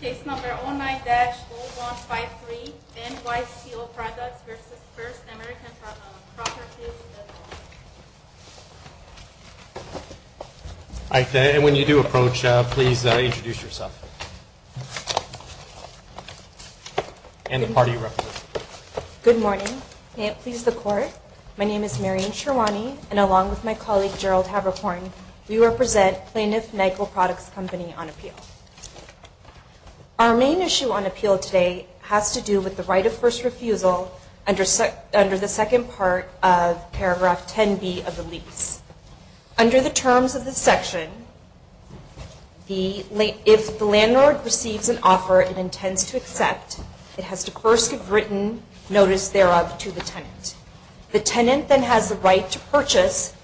Case No. 09-0153 N. Weiss Peel Products v. First American Properties, LLC And when you do approach, please introduce yourself. And the party you represent. Good morning. May it please the Court. My name is Maryann Sherwani, and along with my colleague Gerald Haberhorn, we represent Plaintiff NICO Products Company on appeal. Our main issue on appeal today has to do with the right of first refusal under the second part of paragraph 10B of the lease. Under the terms of this section, if the landlord receives an offer and intends to accept, it has to first give written notice thereof to the tenant. The tenant then has the right to purchase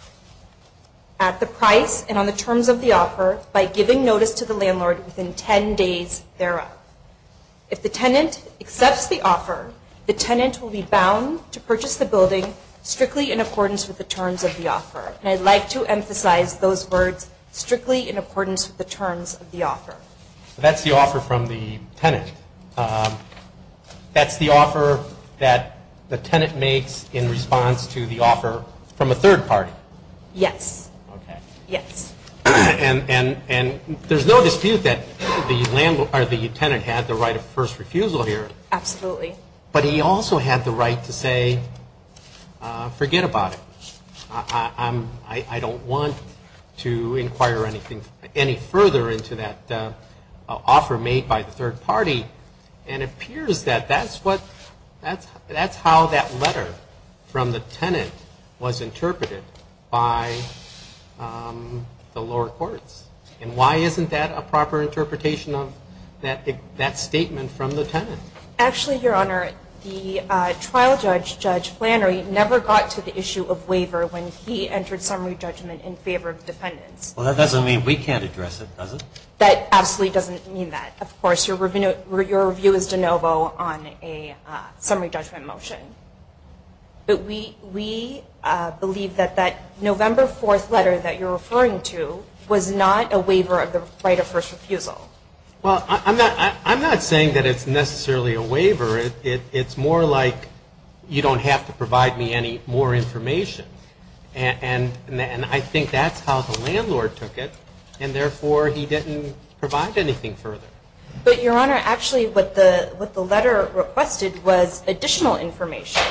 at the price and on the terms of the offer by giving notice to the landlord within 10 days thereof. If the tenant accepts the offer, the tenant will be bound to purchase the building strictly in accordance with the terms of the offer. And I'd like to emphasize those words, strictly in accordance with the terms of the offer. That's the offer from the tenant. That's the offer that the tenant makes in response to the offer from a third party? Yes. Okay. Yes. And there's no dispute that the tenant had the right of first refusal here. Absolutely. But he also had the right to say, forget about it. I don't want to inquire any further into that offer made by the third party. And it appears that that's how that letter from the tenant was interpreted by the lower courts. And why isn't that a proper interpretation of that statement from the tenant? Actually, Your Honor, the trial judge, Judge Flannery, never got to the issue of waiver when he entered summary judgment in favor of defendants. Well, that doesn't mean we can't address it, does it? That absolutely doesn't mean that. Of course, your review is de novo on a summary judgment motion. But we believe that that November 4th letter that you're referring to was not a waiver of the right of first refusal. Well, I'm not saying that it's necessarily a waiver. It's more like you don't have to provide me any more information. And I think that's how the landlord took it, and therefore he didn't provide anything further. But, Your Honor, actually what the letter requested was additional information.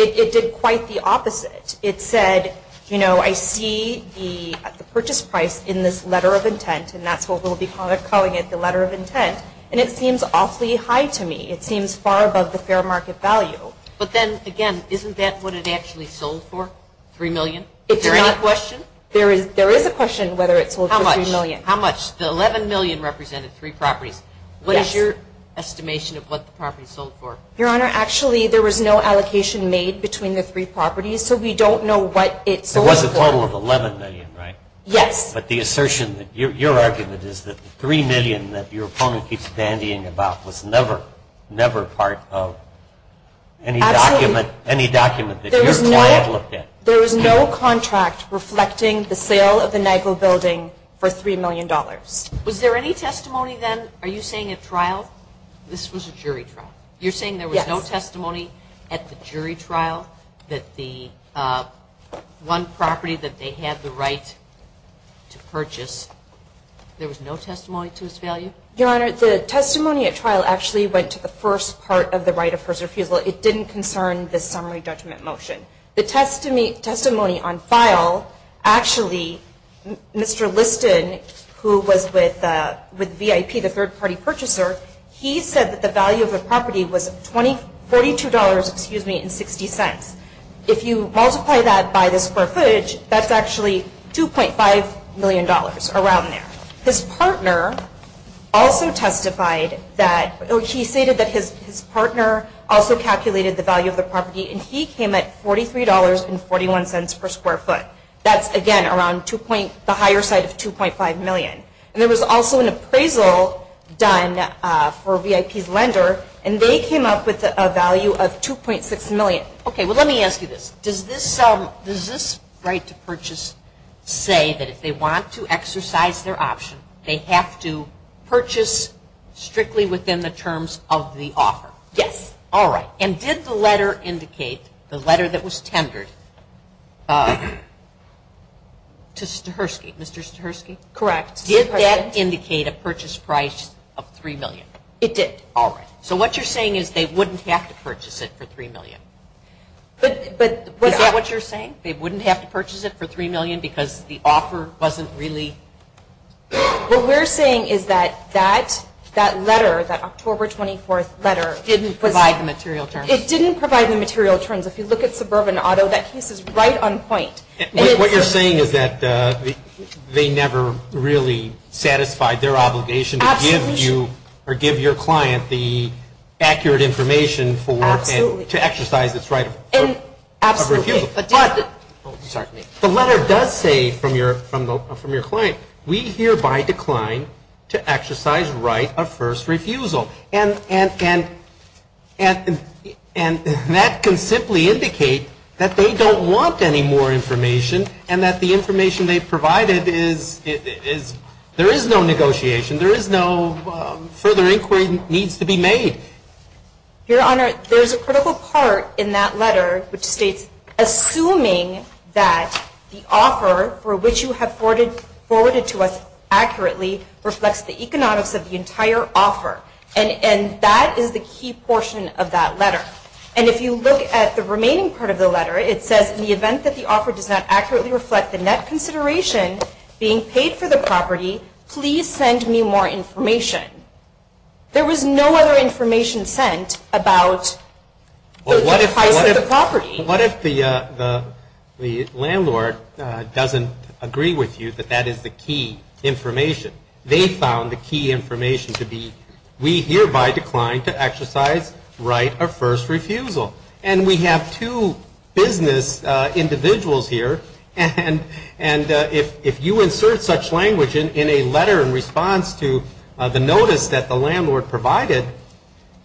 It did quite the opposite. It said, you know, I see the purchase price in this letter of intent, and that's what we'll be calling it, the letter of intent. And it seems awfully high to me. It seems far above the fair market value. But then, again, isn't that what it actually sold for, $3 million? Is there any question? There is a question whether it sold for $3 million. How much? The $11 million represented three properties. What is your estimation of what the property sold for? Your Honor, actually there was no allocation made between the three properties, so we don't know what it sold for. It was a total of $11 million, right? Yes. But the assertion, your argument is that the $3 million that your opponent keeps dandying about was never, never part of any document that your client looked at. There was no contract reflecting the sale of the Nyquil building for $3 million. Was there any testimony then, are you saying at trial? This was a jury trial. You're saying there was no testimony at the jury trial that the one property that they had the right to purchase, there was no testimony to its value? Your Honor, the testimony at trial actually went to the first part of the right of first refusal. It didn't concern the summary judgment motion. The testimony on file, actually, Mr. Liston, who was with VIP, the third-party purchaser, he said that the value of the property was $42.60. If you multiply that by the square footage, that's actually $2.5 million around there. His partner also testified that, or he stated that his partner also calculated the value of the property, and he came at $43.41 per square foot. That's, again, around the higher side of $2.5 million. And there was also an appraisal done for VIP's lender, and they came up with a value of $2.6 million. Okay, well, let me ask you this. Does this right to purchase say that if they want to exercise their option, they have to purchase strictly within the terms of the offer? Yes. All right. And did the letter indicate, the letter that was tendered to Stahursky, Mr. Stahursky? Correct. Did that indicate a purchase price of $3 million? It did. All right. So what you're saying is they wouldn't have to purchase it for $3 million? Is that what you're saying? They wouldn't have to purchase it for $3 million because the offer wasn't really? What we're saying is that that letter, that October 24th letter. Didn't provide the material terms. It didn't provide the material terms. If you look at Suburban Auto, that case is right on point. What you're saying is that they never really satisfied their obligation to give you or give your client the accurate information to exercise its right of refusal. But the letter does say from your client, we hereby decline to exercise right of first refusal. And that can simply indicate that they don't want any more information and that the information they provided is, there is no negotiation. There is no further inquiry needs to be made. Your Honor, there's a critical part in that letter which states, assuming that the offer for which you have forwarded to us accurately reflects the economics of the entire offer. And that is the key portion of that letter. And if you look at the remaining part of the letter, it says in the event that the offer does not accurately reflect the net consideration being paid for the property, please send me more information. There was no other information sent about the price of the property. What if the landlord doesn't agree with you that that is the key information? They found the key information to be, we hereby decline to exercise right of first refusal. And we have two business individuals here, and if you insert such language in a letter in response to the notice that the landlord provided,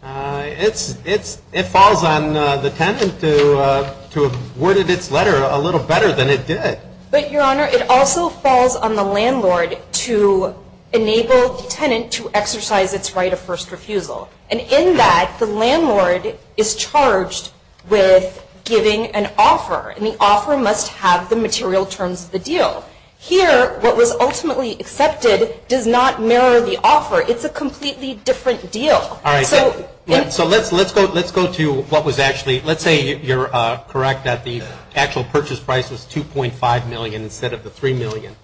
it falls on the tenant to have worded its letter a little better than it did. But, Your Honor, it also falls on the landlord to enable the tenant to exercise its right of first refusal. And in that, the landlord is charged with giving an offer, and the offer must have the material terms of the deal. Here, what was ultimately accepted does not mirror the offer. It's a completely different deal. All right, so let's go to what was actually, let's say you're correct, that the actual purchase price was $2.5 million instead of the $3 million.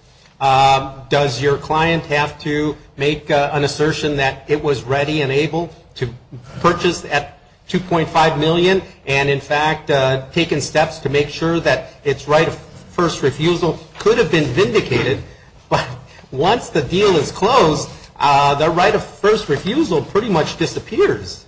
Does your client have to make an assertion that it was ready and able to purchase at $2.5 million, and in fact taken steps to make sure that its right of first refusal could have been vindicated? But once the deal is closed, the right of first refusal pretty much disappears.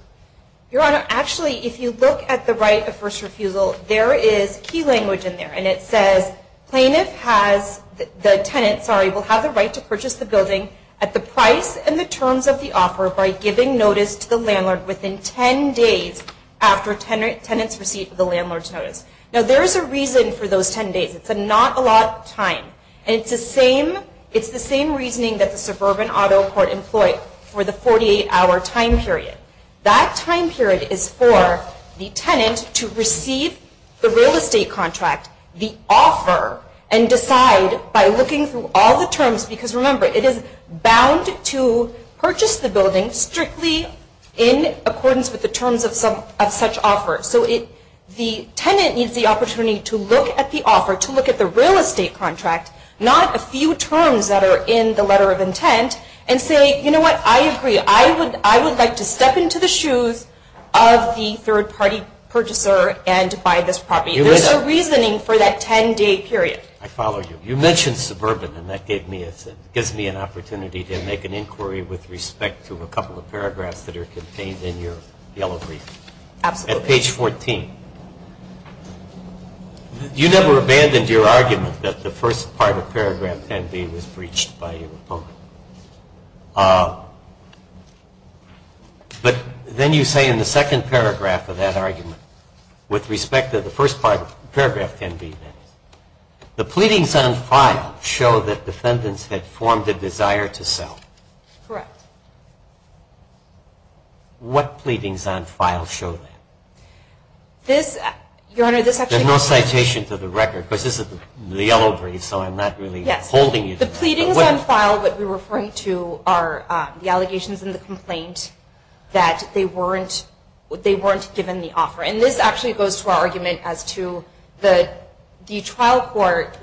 Your Honor, actually, if you look at the right of first refusal, there is key language in there, and it says plaintiff has, the tenant, sorry, will have the right to purchase the building at the price and the terms of the offer by giving notice to the landlord within 10 days after tenant's receipt of the landlord's notice. Now, there is a reason for those 10 days. It's a not a lot time, and it's the same reasoning that the suburban auto court employed for the 48-hour time period. That time period is for the tenant to receive the real estate contract, the offer, and decide by looking through all the terms, because remember, it is bound to purchase the building strictly in accordance with the terms of such offer. So the tenant needs the opportunity to look at the offer, to look at the real estate contract, not a few terms that are in the letter of intent, and say, you know what, I agree. I would like to step into the shoes of the third-party purchaser and buy this property. There is a reasoning for that 10-day period. I follow you. You mentioned suburban, and that gives me an opportunity to make an inquiry with respect to a couple of paragraphs that are contained in your yellow brief. Absolutely. At page 14. You never abandoned your argument that the first part of paragraph 10B was breached by your opponent. But then you say in the second paragraph of that argument, with respect to the first part of paragraph 10B, the pleadings on file show that defendants had formed a desire to sell. Correct. What pleadings on file show that? There's no citation to the record, because this is the yellow brief, so I'm not really holding you to that. The pleadings on file that we're referring to are the allegations in the complaint that they weren't given the offer. And this actually goes to our argument as to the trial court.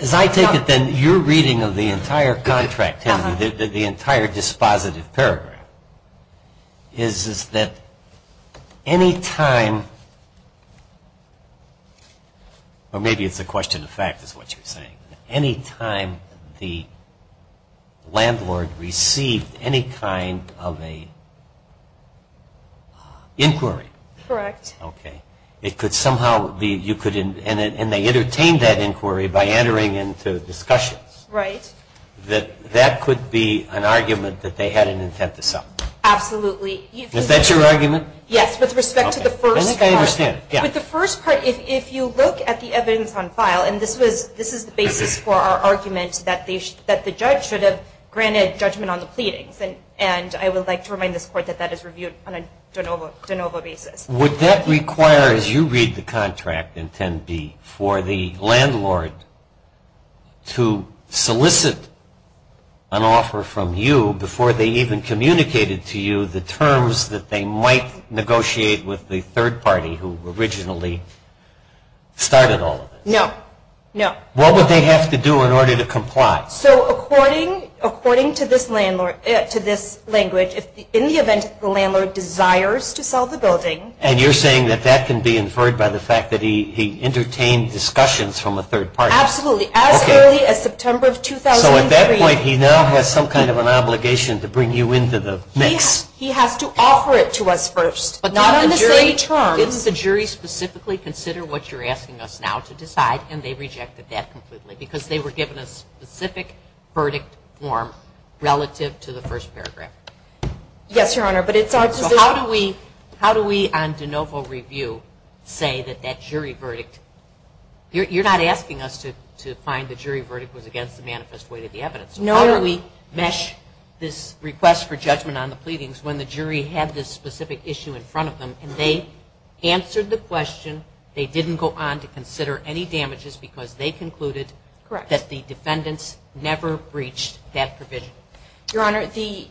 As I take it, then, your reading of the entire contract, the entire dispositive paragraph, is that any time, or maybe it's a question of fact is what you're saying, any time the landlord received any kind of an inquiry. Correct. Okay. It could somehow be you could, and they entertained that inquiry by entering into discussions. Right. That could be an argument that they had an intent to sell. Absolutely. Is that your argument? Yes, with respect to the first part. I think I understand. With the first part, if you look at the evidence on file, and this is the basis for our argument that the judge should have granted judgment on the pleadings. And I would like to remind this Court that that is reviewed on a de novo basis. Would that require, as you read the contract in 10B, for the landlord to solicit an offer from you before they even communicated to you the terms that they might negotiate with the third party who originally started all of this? No. No. What would they have to do in order to comply? So according to this language, in the event that the landlord desires to sell the building. And you're saying that that can be inferred by the fact that he entertained discussions from a third party. Absolutely. As early as September of 2003. So at that point, he now has some kind of an obligation to bring you into the mix. He has to offer it to us first. But not on the same terms. Didn't the jury specifically consider what you're asking us now to decide, and they rejected that completely because they were given a specific verdict form relative to the first paragraph. Yes, Your Honor, but it's our decision. So how do we on de novo review say that that jury verdict, you're not asking us to find the jury verdict was against the manifest weight of the evidence. No. How do we mesh this request for judgment on the pleadings when the jury had this specific issue in front of them and they answered the question, they didn't go on to consider any damages because they concluded. Correct. That the defendants never breached that provision. Your Honor, the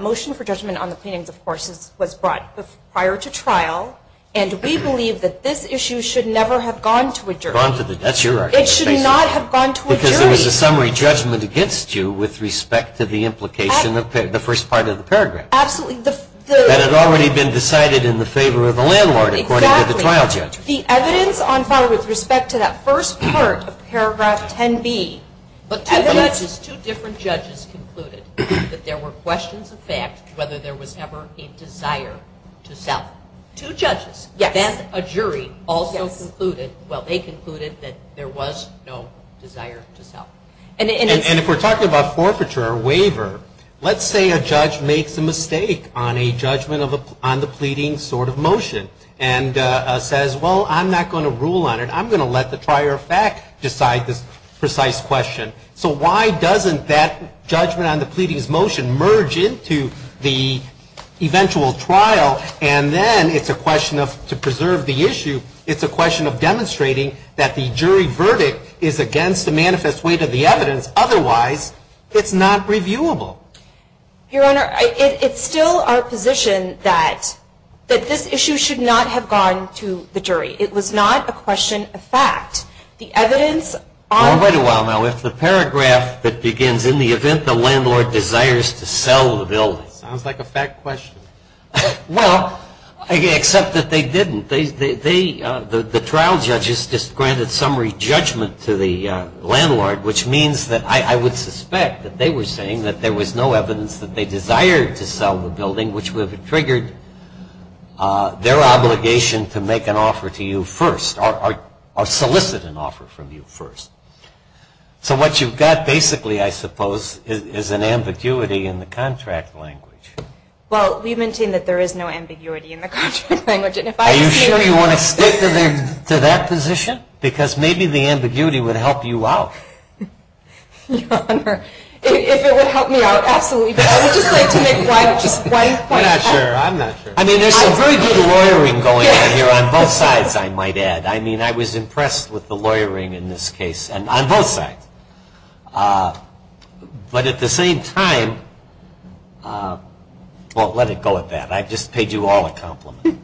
motion for judgment on the pleadings, of course, was brought prior to trial, and we believe that this issue should never have gone to a jury. That's your argument. It should not have gone to a jury. Because there was a summary judgment against you with respect to the implication of the first part of the paragraph. Absolutely. That had already been decided in the favor of the landlord according to the trial judge. Exactly. The evidence on file with respect to that first part of paragraph 10B. But two judges, two different judges concluded that there were questions of fact whether there was ever a desire to sell. Two judges. Yes. Then a jury also concluded, well, they concluded that there was no desire to sell. And if we're talking about forfeiture or waiver, let's say a judge makes a mistake on a judgment on the pleading sort of motion and says, well, I'm not going to rule on it. I'm going to let the trier of fact decide this precise question. So why doesn't that judgment on the pleading's motion merge into the eventual trial, and then it's a question of, to preserve the issue, it's a question of demonstrating that the jury verdict is against the manifest weight of the evidence. Otherwise, it's not reviewable. Your Honor, it's still our position that this issue should not have gone to the jury. It was not a question of fact. The evidence on the. Wait a while now. If the paragraph that begins, in the event the landlord desires to sell the building. Sounds like a fact question. Well, except that they didn't. The trial judges just granted summary judgment to the landlord, which means that I would suspect that they were saying that there was no evidence that they desired to sell the building, which would have triggered their obligation to make an offer to you first or solicit an offer from you first. So what you've got basically, I suppose, is an ambiguity in the contract language. Well, we maintain that there is no ambiguity in the contract language. Are you sure you want to stick to that position? Because maybe the ambiguity would help you out. Your Honor, if it would help me out, absolutely. But I would just like to make one point. I'm not sure. I mean, there's some very good lawyering going on here on both sides, I might add. I mean, I was impressed with the lawyering in this case on both sides. But at the same time, well, let it go at that. I just paid you all a compliment.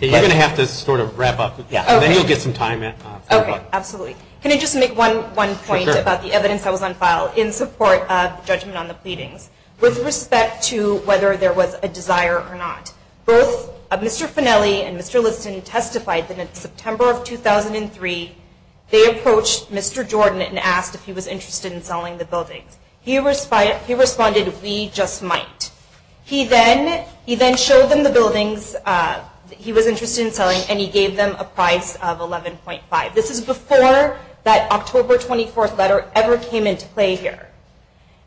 You're going to have to sort of wrap up. Then you'll get some time. Okay, absolutely. Can I just make one point about the evidence that was on file in support of judgment on the pleadings? With respect to whether there was a desire or not, both Mr. Finelli and Mr. Liston testified that in September of 2003, they approached Mr. Jordan and asked if he was interested in selling the building. He responded, we just might. He then showed them the buildings that he was interested in selling, and he gave them a price of $11.5. This is before that October 24th letter ever came into play here.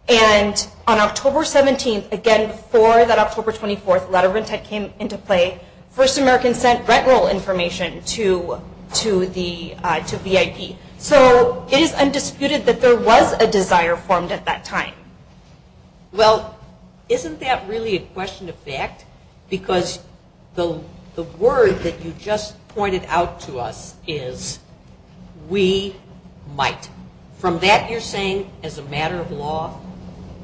And on October 17th, again, before that October 24th letter came into play, First American sent rent roll information to VIP. So it is undisputed that there was a desire formed at that time. Well, isn't that really a question of fact? Because the word that you just pointed out to us is, we might. From that, you're saying, as a matter of law,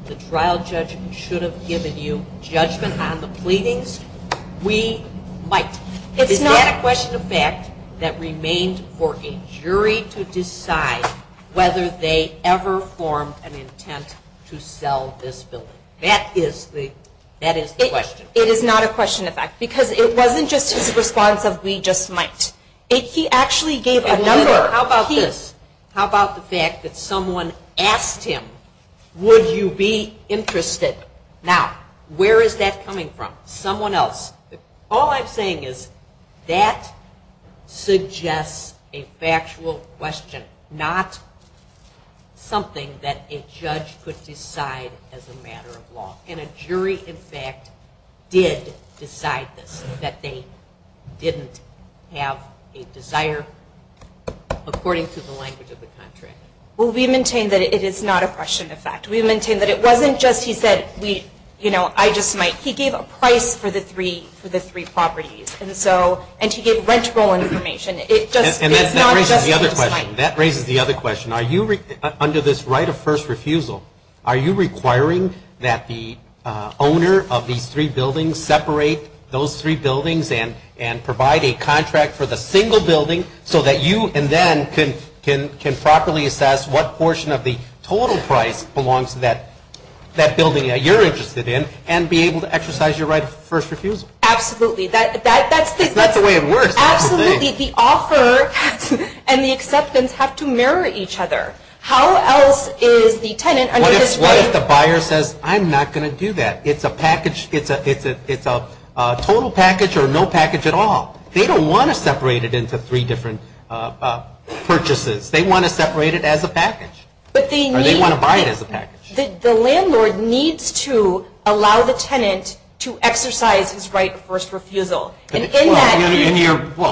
the trial judge should have given you judgment on the pleadings? We might. Is that a question of fact that remained for a jury to decide whether they ever formed an intent to sell this building? That is the question. It is not a question of fact, because it wasn't just his response of, we just might. He actually gave a number. How about this? How about the fact that someone asked him, would you be interested? Now, where is that coming from? Someone else. All I'm saying is, that suggests a factual question, not something that a judge could decide as a matter of law. And a jury, in fact, did decide this, that they didn't have a desire, according to the language of the contract. Well, we maintain that it is not a question of fact. We maintain that it wasn't just, he said, we, you know, I just might. He gave a price for the three properties. And so, and he gave rentable information. And that raises the other question. That raises the other question. Are you, under this right of first refusal, are you requiring that the owner of these three buildings separate those three buildings and provide a contract for the single building so that you, and then, can properly assess what portion of the total price belongs to that building that you're interested in and be able to exercise your right of first refusal? Absolutely. That's the way it works. Absolutely. The offer and the acceptance have to mirror each other. How else is the tenant under this right? What if the buyer says, I'm not going to do that? It's a package. It's a total package or no package at all. They don't want to separate it into three different purchases. They want to separate it as a package. Or they want to buy it as a package. The landlord needs to allow the tenant to exercise his right of first refusal. Well,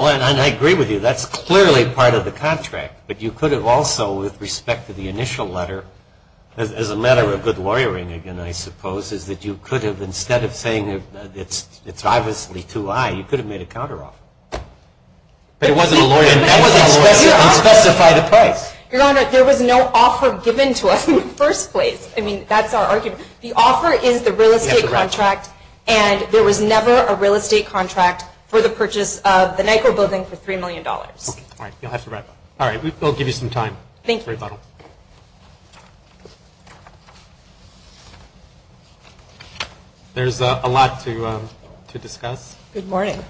and I agree with you. That's clearly part of the contract. But you could have also, with respect to the initial letter, as a matter of good lawyering, again, I suppose, is that you could have, instead of saying it's obviously too high, you could have made a counteroffer. But it wasn't a lawyer. It wasn't a lawyer. You didn't specify the price. Your Honor, there was no offer given to us in the first place. I mean, that's our argument. The offer is the real estate contract. And there was never a real estate contract for the purchase of the Nyko building for $3 million. All right. All right. We'll give you some time. Thank you. Thank you very much. There's a lot to discuss. Good morning.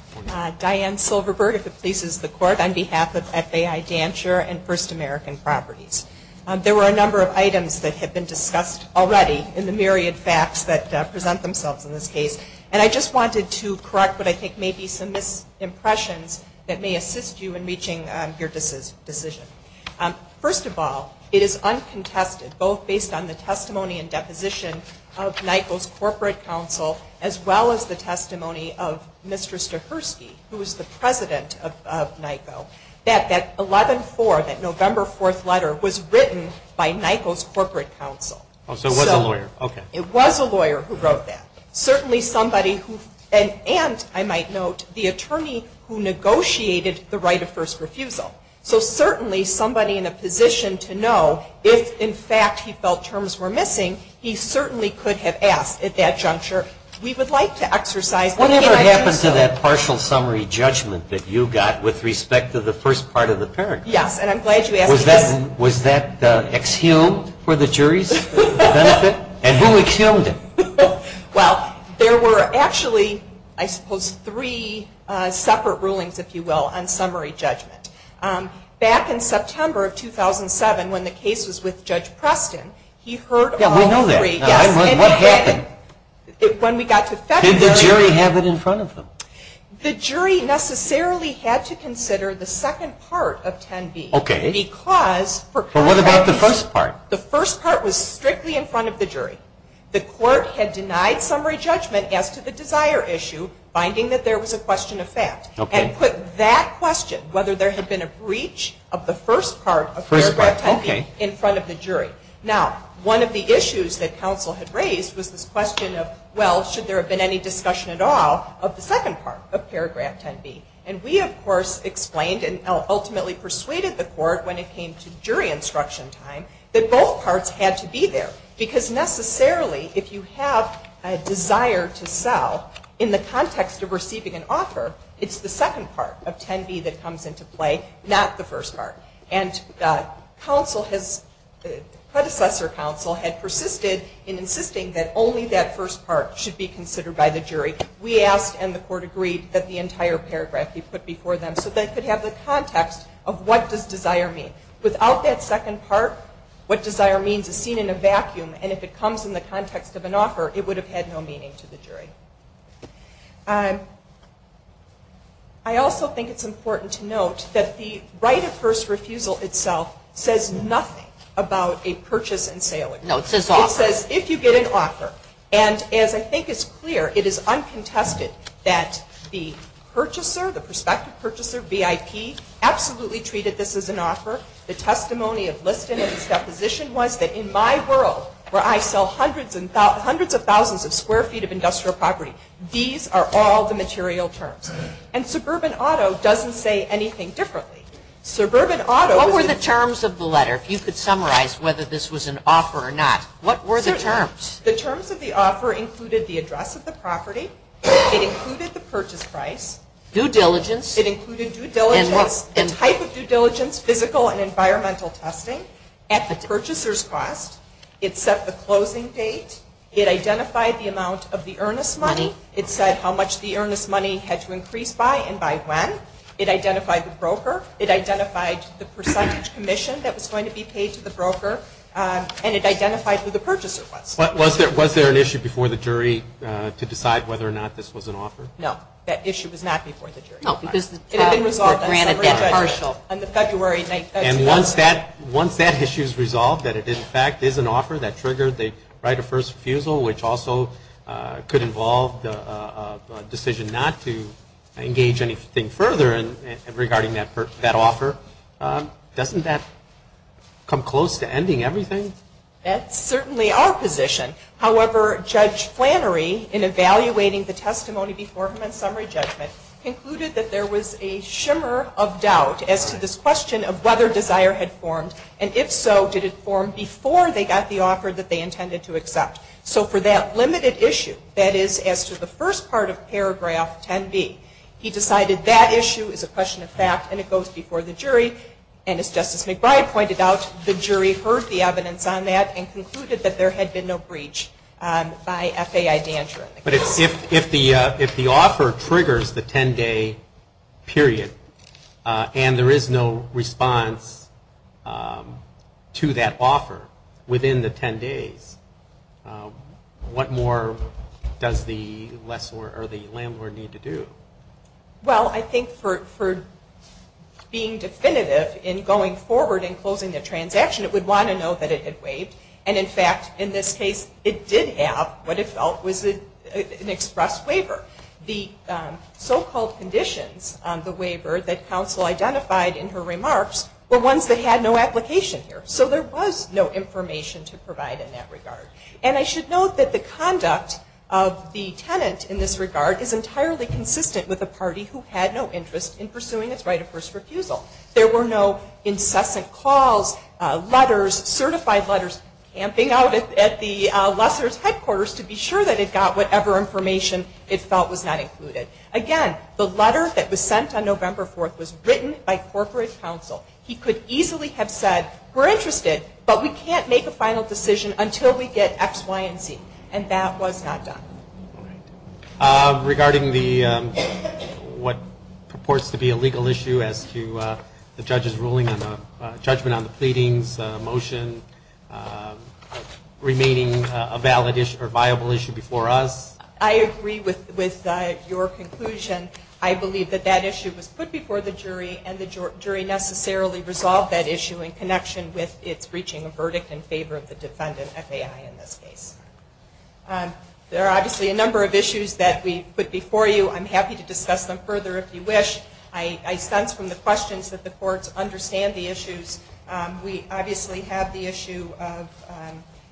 Diane Silverberg, if it pleases the Court, on behalf of FAI Dantzscher and First American Properties. There were a number of items that had been discussed already in the myriad facts that present themselves in this case. And I just wanted to correct what I think may be some misimpressions that may assist you in reaching your decision. First of all, it is uncontested, both based on the testimony and deposition of Nyko's corporate counsel, as well as the testimony of Mr. Stahurski, who was the president of Nyko, that that 11-4, that November 4th letter, was written by Nyko's corporate counsel. So it was a lawyer. It was a lawyer who wrote that. Certainly somebody who, and I might note, the attorney who negotiated the right of first refusal. So certainly somebody in a position to know if, in fact, he felt terms were missing, he certainly could have asked at that juncture. We would like to exercise the can I do so. Whatever happened to that partial summary judgment that you got with respect to the first part of the paragraph? Yes, and I'm glad you asked. Was that exhumed for the jury's benefit? And who exhumed it? Well, there were actually, I suppose, three separate rulings, if you will, on summary judgment. Back in September of 2007, when the case was with Judge Preston, he heard all three. Yeah, we know that. What happened? When we got to February. Did the jury have it in front of them? The jury necessarily had to consider the second part of 10b. Okay. Because, for contrary reasons. But what about the first part? The first part was strictly in front of the jury. The court had denied summary judgment as to the desire issue, finding that there was a question of fact. Okay. And put that question, whether there had been a breach of the first part of paragraph 10b in front of the jury. Now, one of the issues that counsel had raised was this question of, well, should there have been any discussion at all of the second part of paragraph 10b? And we, of course, explained and ultimately persuaded the court when it came to jury instruction time, that both parts had to be there. Because necessarily, if you have a desire to sell, in the context of receiving an offer, it's the second part of 10b that comes into play, not the first part. And counsel has, predecessor counsel, had persisted in insisting that only that first part should be considered by the jury. We asked, and the court agreed, that the entire paragraph be put before them, so they could have the context of what does desire mean. Without that second part, what desire means is seen in a vacuum. And if it comes in the context of an offer, it would have had no meaning to the jury. I also think it's important to note that the right of first refusal itself says nothing about a purchase and sale agreement. No, it says offer. It says if you get an offer. And as I think is clear, it is uncontested that the purchaser, the prospective purchaser, VIP, absolutely treated this as an offer. The testimony of Liston in his deposition was that in my world, where I sell hundreds of thousands of square feet of industrial property, these are all the material terms. And suburban auto doesn't say anything differently. What were the terms of the letter? If you could summarize whether this was an offer or not, what were the terms? The terms of the offer included the address of the property. It included the purchase price. Due diligence. It included due diligence, the type of due diligence, physical and environmental testing, at the purchaser's cost. It set the closing date. It identified the amount of the earnest money. It said how much the earnest money had to increase by and by when. It identified the broker. It identified the percentage commission that was going to be paid to the broker. And it identified who the purchaser was. Was there an issue before the jury to decide whether or not this was an offer? No, that issue was not before the jury. No, because it had been resolved on a summary judgment. And once that issue is resolved, that it, in fact, is an offer that triggered the right of first refusal, which also could involve the decision not to engage anything further regarding that offer, doesn't that come close to ending everything? That's certainly our position. However, Judge Flannery, in evaluating the testimony before him on summary judgment, concluded that there was a shimmer of doubt as to this question of whether desire had formed. And if so, did it form before they got the offer that they intended to accept? So for that limited issue, that is, as to the first part of paragraph 10B, he decided that issue is a question of fact and it goes before the jury. And as Justice McBride pointed out, the jury heard the evidence on that and concluded that there had been no breach by FAI dandruff. But if the offer triggers the 10-day period and there is no response to that offer within the 10 days, what more does the landlord need to do? Well, I think for being definitive in going forward in closing the transaction, it would want to know that it had waived. And in fact, in this case, it did have what it felt was an express waiver. The so-called conditions on the waiver that counsel identified in her remarks were ones that had no application here. So there was no information to provide in that regard. And I should note that the conduct of the tenant in this regard is entirely consistent with a party who had no interest in pursuing its right of first refusal. There were no incessant calls, letters, certified letters, camping out at the lessor's headquarters to be sure that it got whatever information it felt was not included. Again, the letter that was sent on November 4th was written by corporate counsel. He could easily have said, we're interested, but we can't make a final decision until we get X, Y, and Z. And that was not done. Regarding what purports to be a legal issue as to the judge's ruling on the judgment on the pleadings, the motion remaining a viable issue before us. I agree with your conclusion. I believe that that issue was put before the jury, and the jury necessarily resolved that issue in connection with its reaching a verdict in favor of the defendant, FAI, in this case. There are obviously a number of issues that we put before you. I'm happy to discuss them further if you wish. I sense from the questions that the courts understand the issues. We obviously have the issue of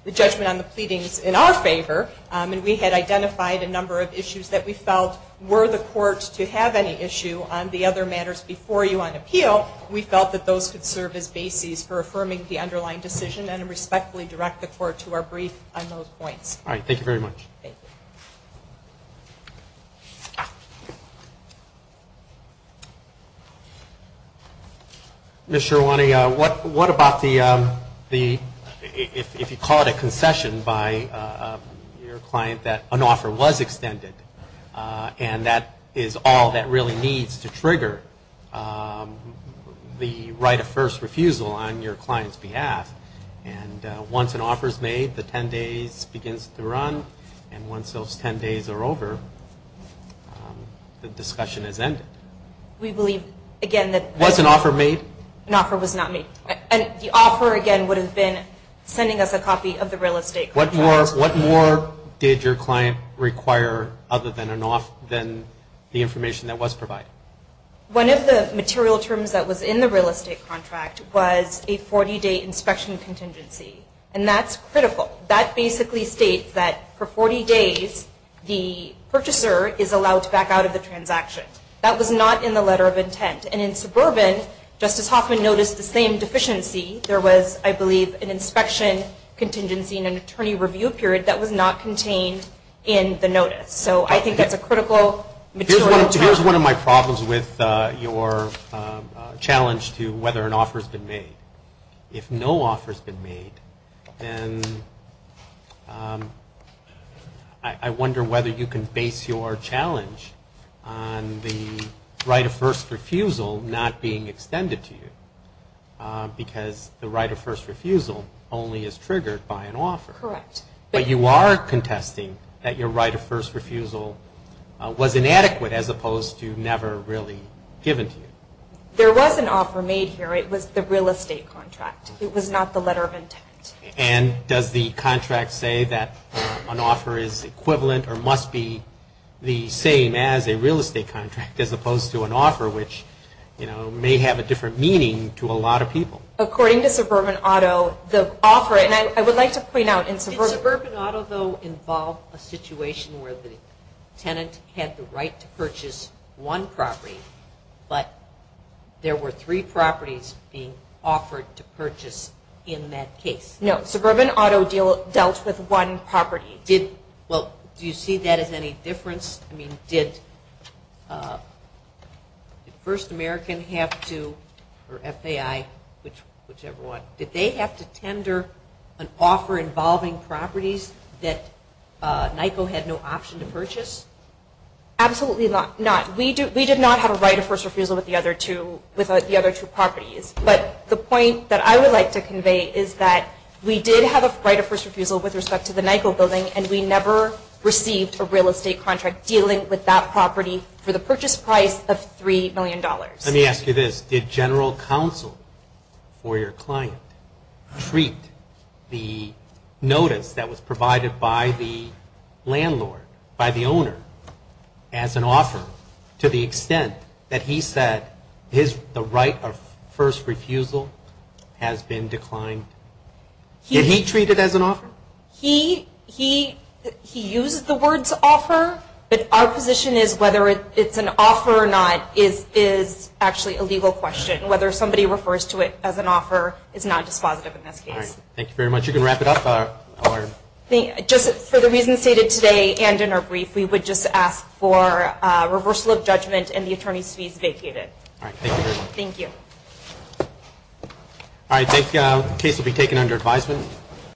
the judgment on the pleadings in our favor, and we had identified a number of issues that we felt were the court to have any issue on the other matters before you on appeal. We felt that those could serve as bases for affirming the underlying decision and respectfully direct the court to our brief on those points. All right. Thank you very much. Thank you. Ms. Scherwani, what about the, if you call it a concession by your client, that an offer was extended and that is all that really needs to trigger the right of first refusal on your client's behalf, and once an offer is made, the 10 days begins to run, and once those 10 days are over, the discussion is ended. We believe, again, that- Was an offer made? An offer was not made. And the offer, again, would have been sending us a copy of the real estate contract. What more did your client require other than the information that was provided? One of the material terms that was in the real estate contract was a 40-day inspection contingency, and that's critical. That basically states that for 40 days, the purchaser is allowed to back out of the transaction. That was not in the letter of intent, and in suburban, Justice Hoffman noticed the same deficiency. There was, I believe, an inspection contingency and an attorney review period that was not contained in the notice. So I think that's a critical material- Here's one of my problems with your challenge to whether an offer's been made. If no offer's been made, then I wonder whether you can base your challenge on the right of first refusal not being extended to you because the right of first refusal only is triggered by an offer. Correct. But you are contesting that your right of first refusal was inadequate as opposed to never really given to you. There was an offer made here. It was the real estate contract. It was not the letter of intent. And does the contract say that an offer is equivalent or must be the same as a real estate contract as opposed to an offer which may have a different meaning to a lot of people? According to Suburban Auto, the offer- and I would like to point out- Did Suburban Auto, though, involve a situation where the tenant had the right to purchase one property but there were three properties being offered to purchase in that case? No, Suburban Auto dealt with one property. Well, do you see that as any difference? I mean, did First American have to- or FAI, whichever one- did they have to tender an offer involving properties that NYCO had no option to purchase? Absolutely not. We did not have a right of first refusal with the other two properties. But the point that I would like to convey is that we did have a right of first refusal with respect to the NYCO building and we never received a real estate contract dealing with that property for the purchase price of $3 million. Let me ask you this. Did general counsel for your client treat the notice that was provided by the landlord, by the owner, as an offer to the extent that he said the right of first refusal has been declined? Did he treat it as an offer? He used the words offer, but our position is whether it's an offer or not is actually a legal question. Whether somebody refers to it as an offer is not dispositive in this case. All right, thank you very much. You can wrap it up. Just for the reasons stated today and in our brief, we would just ask for reversal of judgment and the attorney's fees vacated. All right, thank you very much. Thank you. All right, the case will be taken under advisement.